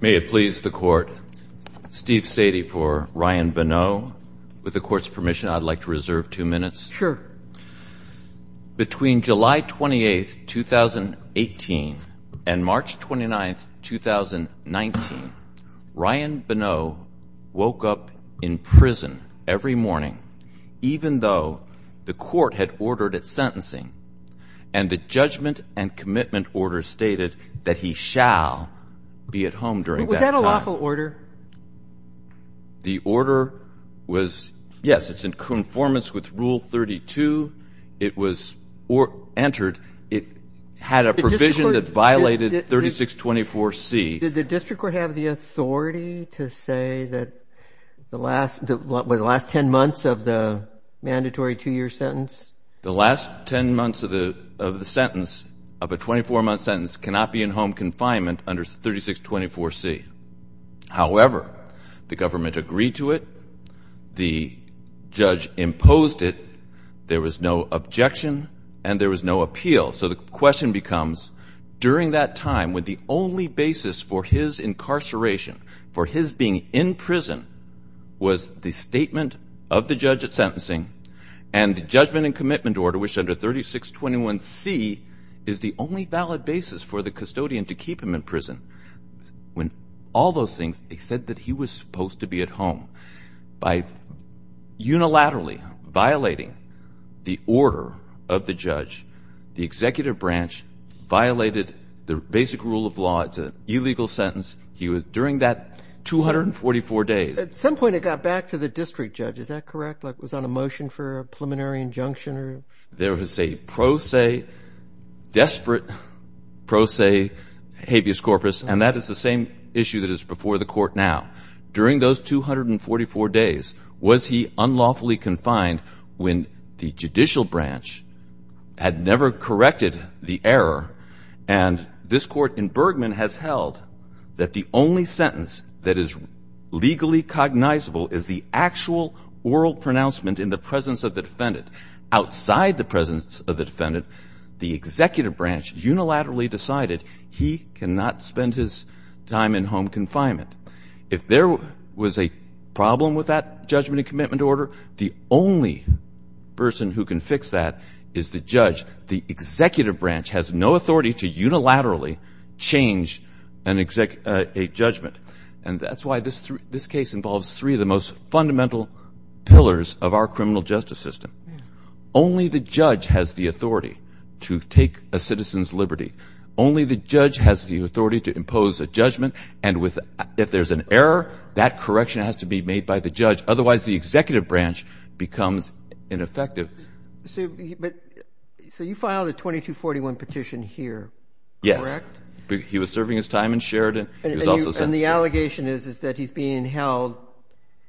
Between July 28, 2018 and March 29, 2019, Ryan Bonneau woke up in prison every morning, even though the court had ordered its sentencing and the judgment and commitment order stated that he shall be at home during that time. Was that a lawful order? The order was, yes, it's in conformance with Rule 32. It was entered. It had a provision that violated 3624C. Did the district court have the authority to say that the last 10 months of the mandatory two-year sentence? The last 10 months of the sentence, of a 24-month sentence, cannot be in home confinement under 3624C. However, the government agreed to it, the judge imposed it, there was no objection, and there was no appeal. So the question becomes, during that time when the only basis for his incarceration, for his being in prison, was the statement of the judge at sentencing and the judgment and commitment order, which under 3621C is the only valid basis for the custodian to keep him in prison. When all those things, they said that he was supposed to be at home. By unilaterally violating the order of the judge, the executive branch violated the basic rule of law. It's an illegal sentence. He was, during that 244 days. At some point, it got back to the district judge. Is that correct? Like, was that a motion for a preliminary injunction or? There was a pro se, desperate pro se habeas corpus, and that is the same issue that is before the court now. During those 244 days, was he unlawfully confined when the judicial branch had never corrected the error? And this court in Bergman has held that the only sentence that is legally cognizable is the actual oral pronouncement in the presence of the defendant. Outside the presence of the defendant, the executive branch unilaterally decided he cannot spend his time in home confinement. If there was a problem with that judgment and commitment order, the only person who can fix that is the judge. The executive branch has no authority to unilaterally change a judgment. And that's why this case involves three of the most fundamental pillars of our criminal justice system. Only the judge has the authority to take a citizen's liberty. Only the judge has the authority to impose a judgment. And if there's an error, that correction has to be made by the judge. Otherwise, the executive branch becomes ineffective. So you filed a 2241 petition here, correct? Yes. He was serving his time in Sheridan. And the allegation is that he's being held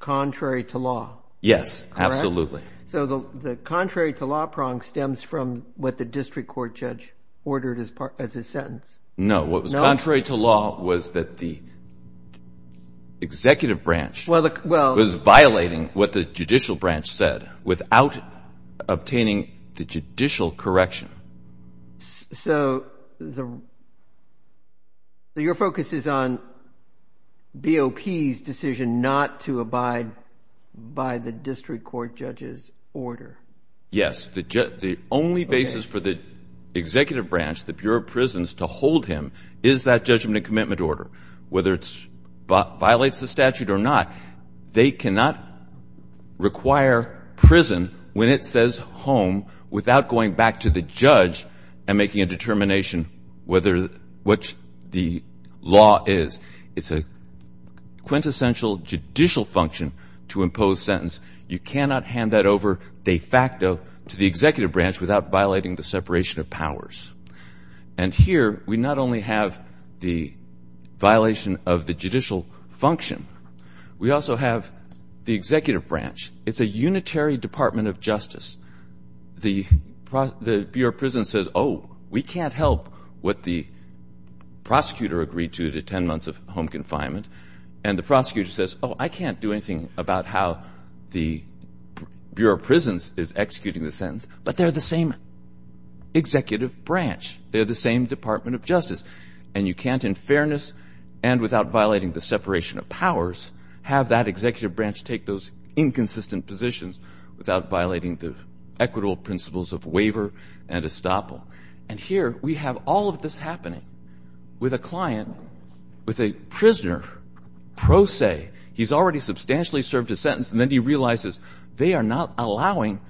contrary to law. Yes, absolutely. So the contrary to law prong stems from what the district court judge ordered as his sentence? No. What was contrary to law was that the executive branch was violating what the judicial branch said without obtaining the judicial correction. So your focus is on BOP's decision not to abide by the district court judge's order? Yes. The only basis for the executive branch, the Bureau of Prisons, to hold him is that judgment and commitment order. Whether it violates the statute or not, they cannot require prison when it says home without going back to the judge and making a determination what the law is. It's a quintessential judicial function to impose sentence. You cannot hand that over de facto to the executive branch without violating the separation of powers. And here we not only have the violation of the judicial function, we also have the executive branch. It's a unitary department of justice. The Bureau of Prisons says, oh, we can't help what the prosecutor agreed to, the 10 months of home confinement. And the prosecutor says, oh, I can't do anything about how the Bureau of Prisons is executing the sentence. But they're the same executive branch. They're the same department of justice. And you can't, in fairness and without violating the separation of powers, have that executive branch take those inconsistent positions without violating the equitable principles of waiver and estoppel. And here we have all of this happening with a client, with a prisoner, pro se. He's already substantially served his sentence, and then he realizes they are not allowing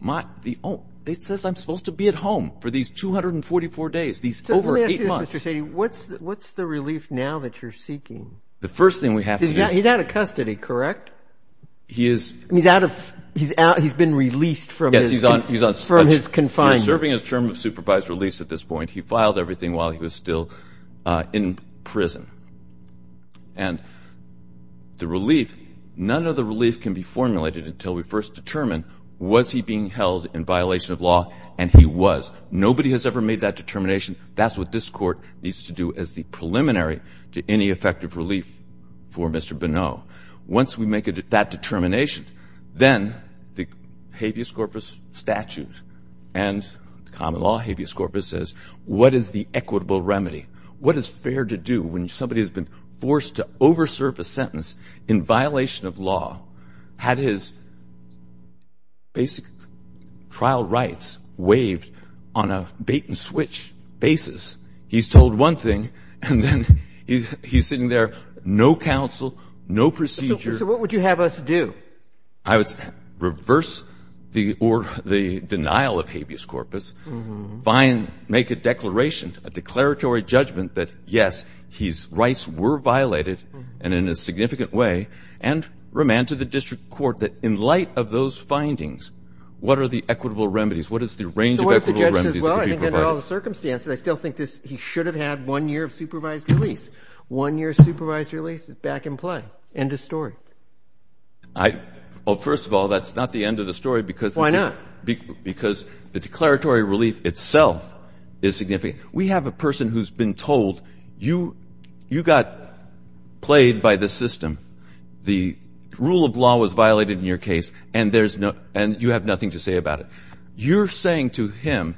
my ó oh, it says I'm supposed to be at home for these 244 days, these over 8 months. So let me ask you this, Mr. Saini. What's the relief now that you're seeking? The first thing we have to doó He's out of custody, correct? He isó He's out ofóhe's been released from hisó Yes, he's onó From his confinement. He's serving his term of supervised release at this point. He filed everything while he was still in prison. And the relief, none of the relief can be formulated until we first determine was he being held in violation of law, and he was. Nobody has ever made that determination. That's what this Court needs to do as the preliminary to any effective relief for Mr. Bonneau. Once we make that determination, then the habeas corpus statute and common law habeas corpus says what is the equitable remedy? What is fair to do when somebody has been forced to over-serve a sentence in violation of law, had his basic trial rights waived on a bait-and-switch basis? He's told one thing, and then he's sitting there, no counsel, no procedure. So what would you have us do? I would reverse the denial of habeas corpus, make a declaration, a declaratory judgment that, yes, his rights were violated and in a significant way, and remand to the district court that in light of those findings, what are the equitable remedies? What is the range of equitable remedies that could be provided? So what if the judge says, well, I think under all the circumstances, I still think he should have had one year of supervised release. One year of supervised release is back in play. End of story. Well, first of all, that's not the end of the story because the declaratory relief itself is significant. We have a person who's been told, you got played by the system, the rule of law was violated in your case, and you have nothing to say about it. You're saying to him,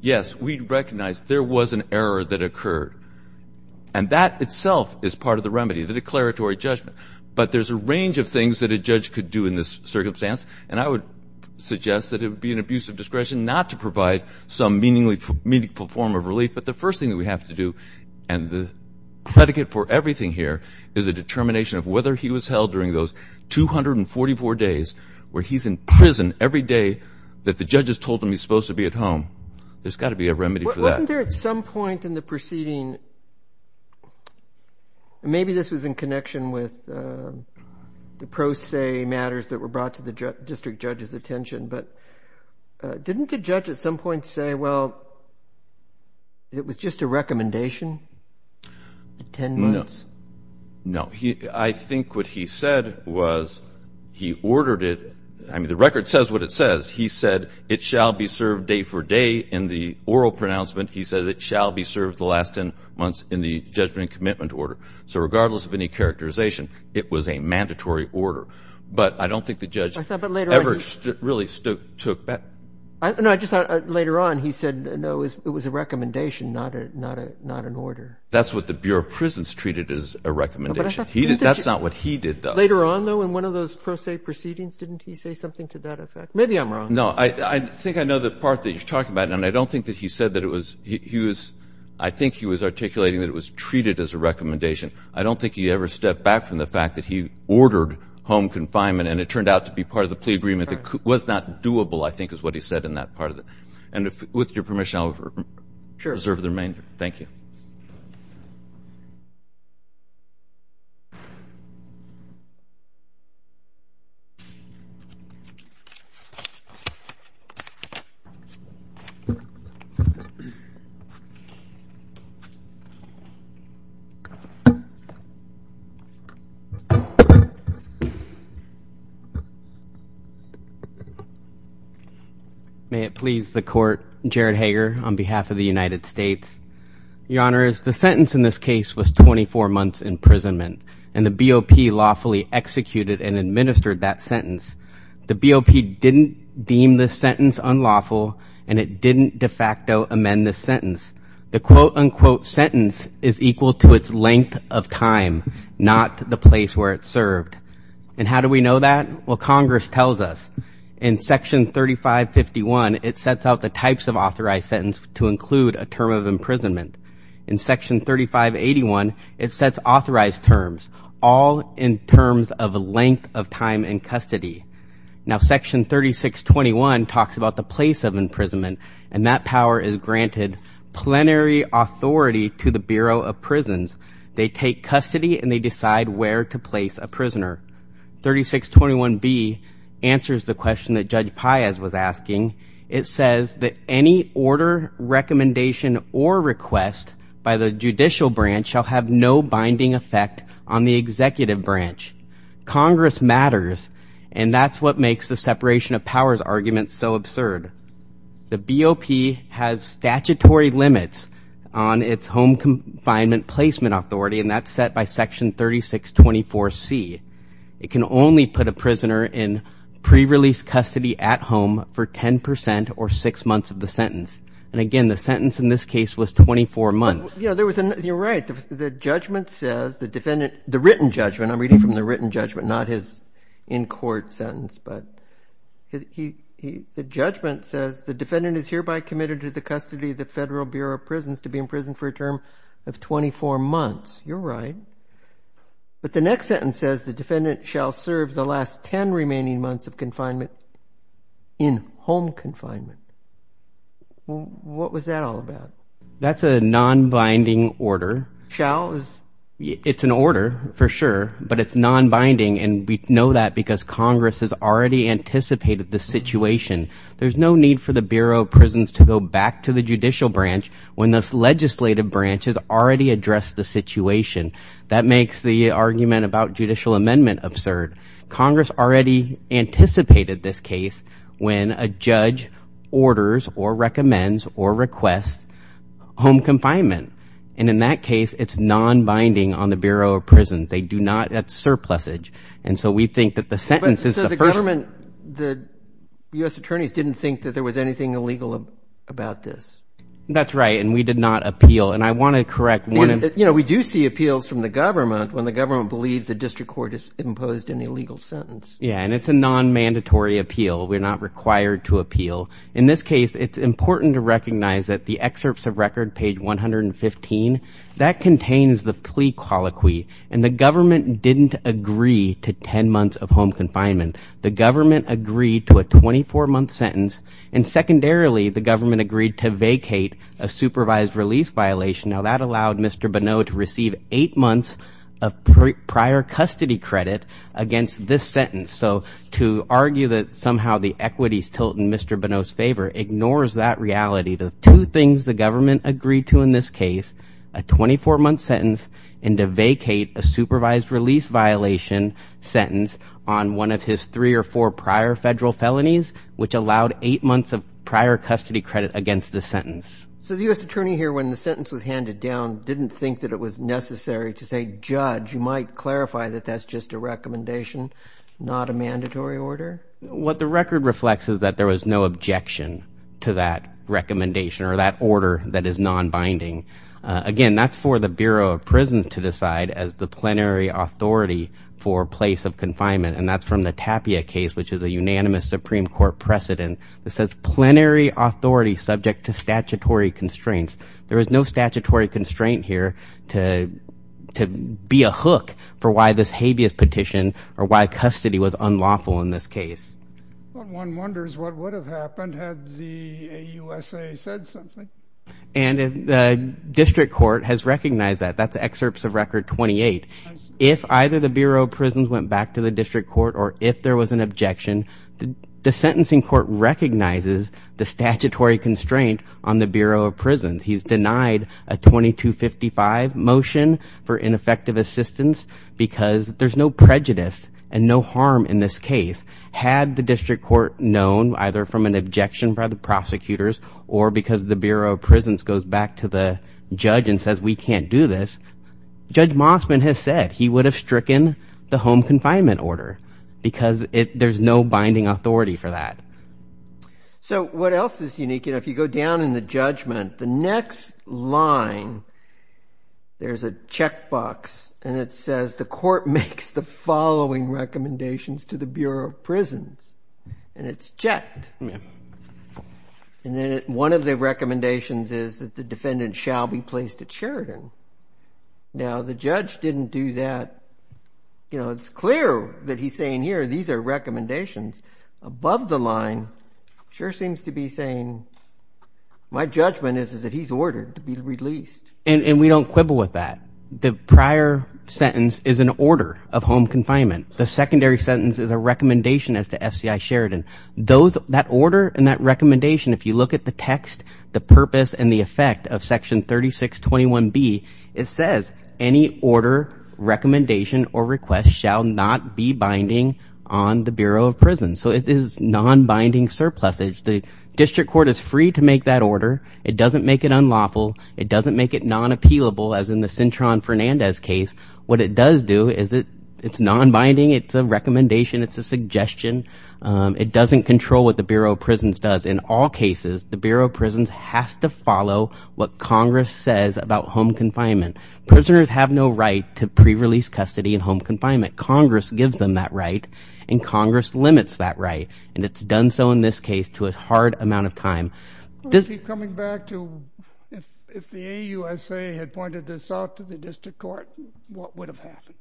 yes, we recognize there was an error that occurred. And that itself is part of the remedy, the declaratory judgment. But there's a range of things that a judge could do in this circumstance, and I would suggest that it would be an abuse of discretion not to provide some meaningful form of relief. But the first thing that we have to do, and the predicate for everything here, is a determination of whether he was held during those 244 days where he's in prison every day that the judge has told him he's supposed to be at home. There's got to be a remedy for that. Wasn't there at some point in the proceeding, maybe this was in connection with the pro se matters that were brought to the district judge's attention, but didn't the judge at some point say, well, it was just a recommendation? No. I think what he said was he ordered it. I mean, the record says what it says. He said it shall be served day for day in the oral pronouncement. He says it shall be served the last 10 months in the judgment and commitment order. So regardless of any characterization, it was a mandatory order. But I don't think the judge ever really took that. Later on he said, no, it was a recommendation, not an order. That's what the Bureau of Prisons treated as a recommendation. That's not what he did, though. Later on, though, in one of those pro se proceedings, didn't he say something to that effect? Maybe I'm wrong. No, I think I know the part that you're talking about. And I don't think that he said that it was he was I think he was articulating that it was treated as a recommendation. I don't think he ever stepped back from the fact that he ordered home confinement. And it turned out to be part of the plea agreement that was not doable, I think, is what he said in that part of it. And with your permission, I'll reserve the remainder. Thank you. Thank you. May it please the court. Jared Hager, on behalf of the United States. Your Honor, is the sentence in this case was 24 months imprisonment and the BOP lawfully executed and administered that sentence. The BOP didn't deem the sentence unlawful and it didn't de facto amend the sentence. The quote unquote sentence is equal to its length of time, not the place where it served. And how do we know that? Well, Congress tells us in Section 3551, it sets out the types of authorized sentence to include a term of imprisonment. In Section 3581, it sets authorized terms, all in terms of the length of time in custody. Now, Section 3621 talks about the place of imprisonment and that power is granted plenary authority to the Bureau of Prisons. They take custody and they decide where to place a prisoner. 3621B answers the question that Judge Paez was asking. It says that any order, recommendation, or request by the judicial branch shall have no binding effect on the executive branch. Congress matters and that's what makes the separation of powers argument so absurd. The BOP has statutory limits on its home confinement placement authority and that's set by Section 3624C. It can only put a prisoner in pre-release custody at home for 10 percent or six months of the sentence. And again, the sentence in this case was 24 months. You're right. The judgment says, the defendant, the written judgment, I'm reading from the written judgment, not his in-court sentence. But the judgment says, the defendant is hereby committed to the custody of the Federal Bureau of Prisons to be in prison for a term of 24 months. You're right. But the next sentence says, the defendant shall serve the last 10 remaining months of confinement in home confinement. What was that all about? That's a non-binding order. Shall? It's an order, for sure, but it's non-binding and we know that because Congress has already anticipated the situation. There's no need for the Bureau of Prisons to go back to the judicial branch when this legislative branch has already addressed the situation. That makes the argument about judicial amendment absurd. Congress already anticipated this case when a judge orders or recommends or requests home confinement. And in that case, it's non-binding on the Bureau of Prisons. They do not, that's surplusage. And so we think that the sentence is the first. So the government, the U.S. attorneys didn't think that there was anything illegal about this. That's right, and we did not appeal. And I want to correct one. You know, we do see appeals from the government when the government believes the district court has imposed an illegal sentence. Yeah, and it's a non-mandatory appeal. We're not required to appeal. In this case, it's important to recognize that the excerpts of record, page 115, that contains the plea colloquy. And the government didn't agree to 10 months of home confinement. The government agreed to a 24-month sentence. And secondarily, the government agreed to vacate a supervised release violation. Now, that allowed Mr. Bonneau to receive eight months of prior custody credit against this sentence. So to argue that somehow the equities tilt in Mr. Bonneau's favor ignores that reality. The two things the government agreed to in this case, a 24-month sentence, and to vacate a supervised release violation sentence on one of his three or four prior federal felonies, which allowed eight months of prior custody credit against the sentence. So the U.S. attorney here, when the sentence was handed down, didn't think that it was necessary to say, judge. You might clarify that that's just a recommendation, not a mandatory order? What the record reflects is that there was no objection to that recommendation or that order that is non-binding. Again, that's for the Bureau of Prisons to decide as the plenary authority for place of confinement. And that's from the Tapia case, which is a unanimous Supreme Court precedent. It says plenary authority subject to statutory constraints. There is no statutory constraint here to be a hook for why this habeas petition or why custody was unlawful in this case. One wonders what would have happened had the AUSA said something. And the district court has recognized that. That's excerpts of Record 28. If either the Bureau of Prisons went back to the district court or if there was an objection, the sentencing court recognizes the statutory constraint on the Bureau of Prisons. He's denied a 2255 motion for ineffective assistance because there's no prejudice and no harm in this case. Had the district court known either from an objection by the prosecutors or because the Bureau of Prisons goes back to the judge and says we can't do this, Judge Mossman has said he would have stricken the home confinement order because there's no binding authority for that. So what else is unique? If you go down in the judgment, the next line, there's a checkbox and it says the court makes the following recommendations to the Bureau of Prisons. And it's checked. And then one of the recommendations is that the defendant shall be placed at Sheridan. Now, the judge didn't do that. You know, it's clear that he's saying here these are recommendations. Above the line, it sure seems to be saying my judgment is that he's ordered to be released. And we don't quibble with that. The prior sentence is an order of home confinement. The secondary sentence is a recommendation as to FCI Sheridan. That order and that recommendation, if you look at the text, the purpose and the effect of Section 3621B, it says any order, recommendation or request shall not be binding on the Bureau of Prisons. So it is non-binding surplusage. The district court is free to make that order. It doesn't make it unlawful. It doesn't make it non-appealable, as in the Cintron-Fernandez case. What it does do is it's non-binding. It's a recommendation. It's a suggestion. It doesn't control what the Bureau of Prisons does. In all cases, the Bureau of Prisons has to follow what Congress says about home confinement. Prisoners have no right to pre-release custody in home confinement. Congress gives them that right, and Congress limits that right. And it's done so in this case to a hard amount of time. Let's keep coming back to if the AUSA had pointed this out to the district court, what would have happened?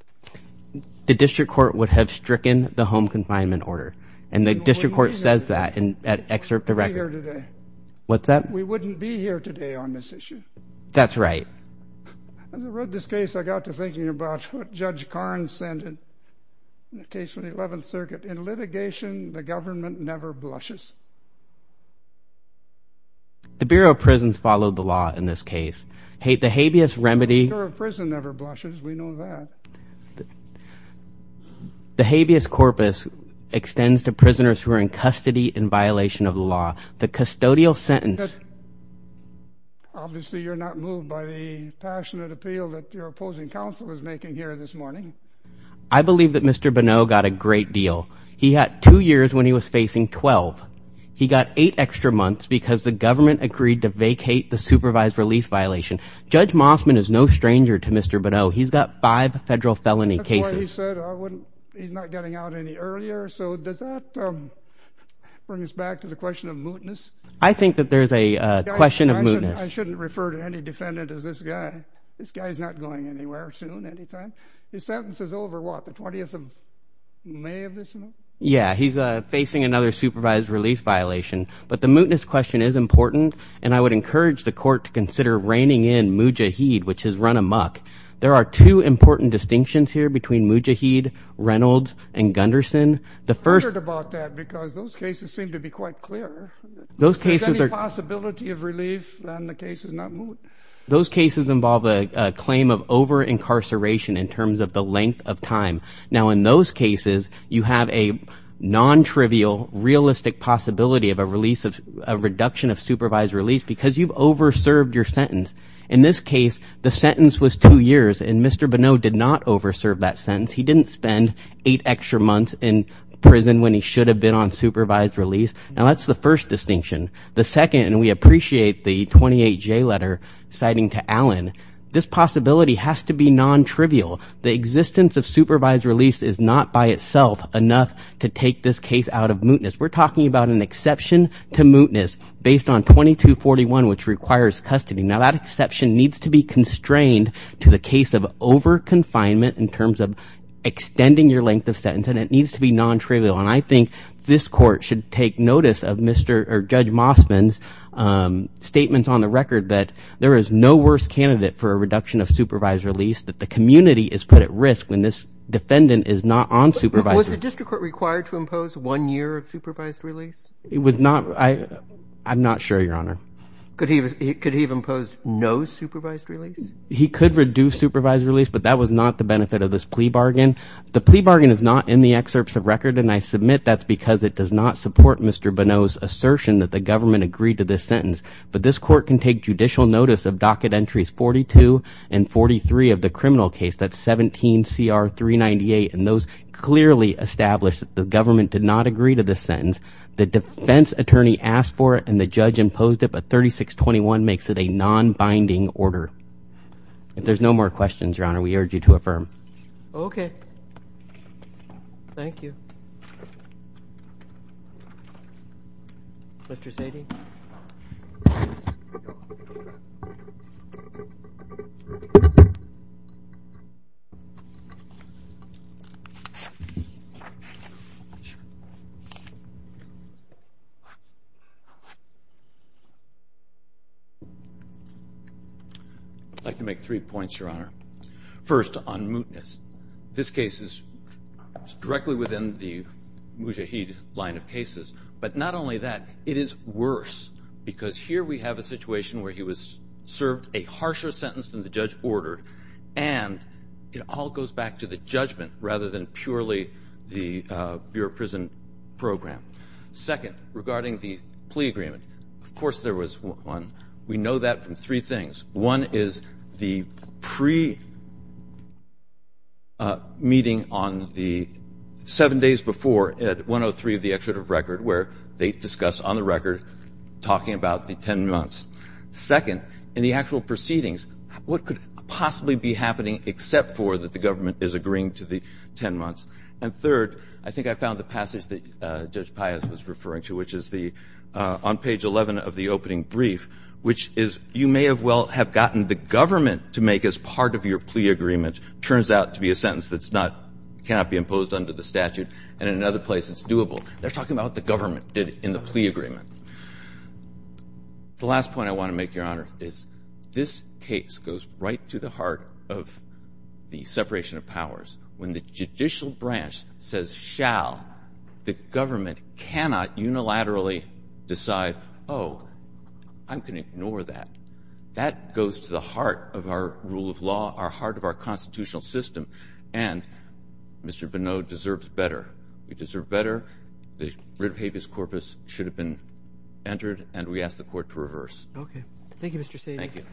The district court would have stricken the home confinement order. And the district court says that in an excerpt of the record. We wouldn't be here today. What's that? We wouldn't be here today on this issue. That's right. When I wrote this case, I got to thinking about what Judge Karnes said in the case of the 11th Circuit. In litigation, the government never blushes. The Bureau of Prisons followed the law in this case. The habeas remedy The Bureau of Prisons never blushes. We know that. The habeas corpus extends to prisoners who are in custody in violation of the law. The custodial sentence Obviously, you're not moved by the passionate appeal that your opposing counsel is making here this morning. I believe that Mr. Bonneau got a great deal. He had two years when he was facing 12. He got eight extra months because the government agreed to vacate the supervised release violation. Judge Mossman is no stranger to Mr. Bonneau. He's got five federal felony cases. That's why he said he's not getting out any earlier. So does that bring us back to the question of mootness? I think that there's a question of mootness. I shouldn't refer to any defendant as this guy. This guy's not going anywhere soon, anytime. His sentence is over, what, the 20th of May of this month? Yeah, he's facing another supervised release violation. But the mootness question is important. And I would encourage the court to consider reining in moot jaheed, which is run amok. There are two important distinctions here between moot jaheed, Reynolds, and Gunderson. I'm concerned about that because those cases seem to be quite clear. If there's any possibility of relief, then the case is not moot. Those cases involve a claim of over-incarceration in terms of the length of time. Now, in those cases, you have a non-trivial, realistic possibility of a reduction of supervised release because you've over-served your sentence. In this case, the sentence was two years, and Mr. Bonneau did not over-serve that sentence. He didn't spend eight extra months in prison when he should have been on supervised release. Now, that's the first distinction. The second, and we appreciate the 28J letter citing to Allen, this possibility has to be non-trivial. The existence of supervised release is not by itself enough to take this case out of mootness. We're talking about an exception to mootness based on 2241, which requires custody. Now, that exception needs to be constrained to the case of over-confinement in terms of extending your length of sentence, and it needs to be non-trivial. And I think this court should take notice of Judge Mossman's statements on the record that there is no worse candidate for a reduction of supervised release, that the community is put at risk when this defendant is not on supervised release. Was the district court required to impose one year of supervised release? It was not. I'm not sure, Your Honor. Could he have imposed no supervised release? He could reduce supervised release, but that was not the benefit of this plea bargain. The plea bargain is not in the excerpts of record, and I submit that's because it does not support Mr. Bonneau's assertion that the government agreed to this sentence. But this court can take judicial notice of docket entries 42 and 43 of the criminal case, that's 17CR398, and those clearly establish that the government did not agree to this sentence. The defense attorney asked for it and the judge imposed it, but 3621 makes it a non-binding order. If there's no more questions, Your Honor, we urge you to affirm. Okay. Thank you. Mr. Sady? I'd like to make three points, Your Honor. First, on mootness. This case is directly within the Mujahid line of cases. But not only that, it is worse because here we have a situation where he was served a harsher sentence than the judge ordered, and it all goes back to the judgment rather than purely the Bureau of Prison program. Second, regarding the plea agreement, of course there was one. We know that from three things. One is the pre-meeting on the seven days before at 103 of the excerpt of record, where they discuss on the record talking about the 10 months. Second, in the actual proceedings, what could possibly be happening except for that the government is agreeing to the 10 months? And third, I think I found the passage that Judge Pius was referring to, which is on page 11 of the opening brief, which is you may well have gotten the government to make as part of your plea agreement. It turns out to be a sentence that cannot be imposed under the statute, and in another place it's doable. They're talking about what the government did in the plea agreement. The last point I want to make, Your Honor, is this case goes right to the heart of the separation of powers. When the judicial branch says shall, the government cannot unilaterally decide, oh, I'm going to ignore that. That goes to the heart of our rule of law, our heart of our constitutional system, and Mr. Bonneau deserves better. We deserve better. The writ habeas corpus should have been entered, and we ask the Court to reverse. Okay. Thank you, Mr. Sagan. Thank you.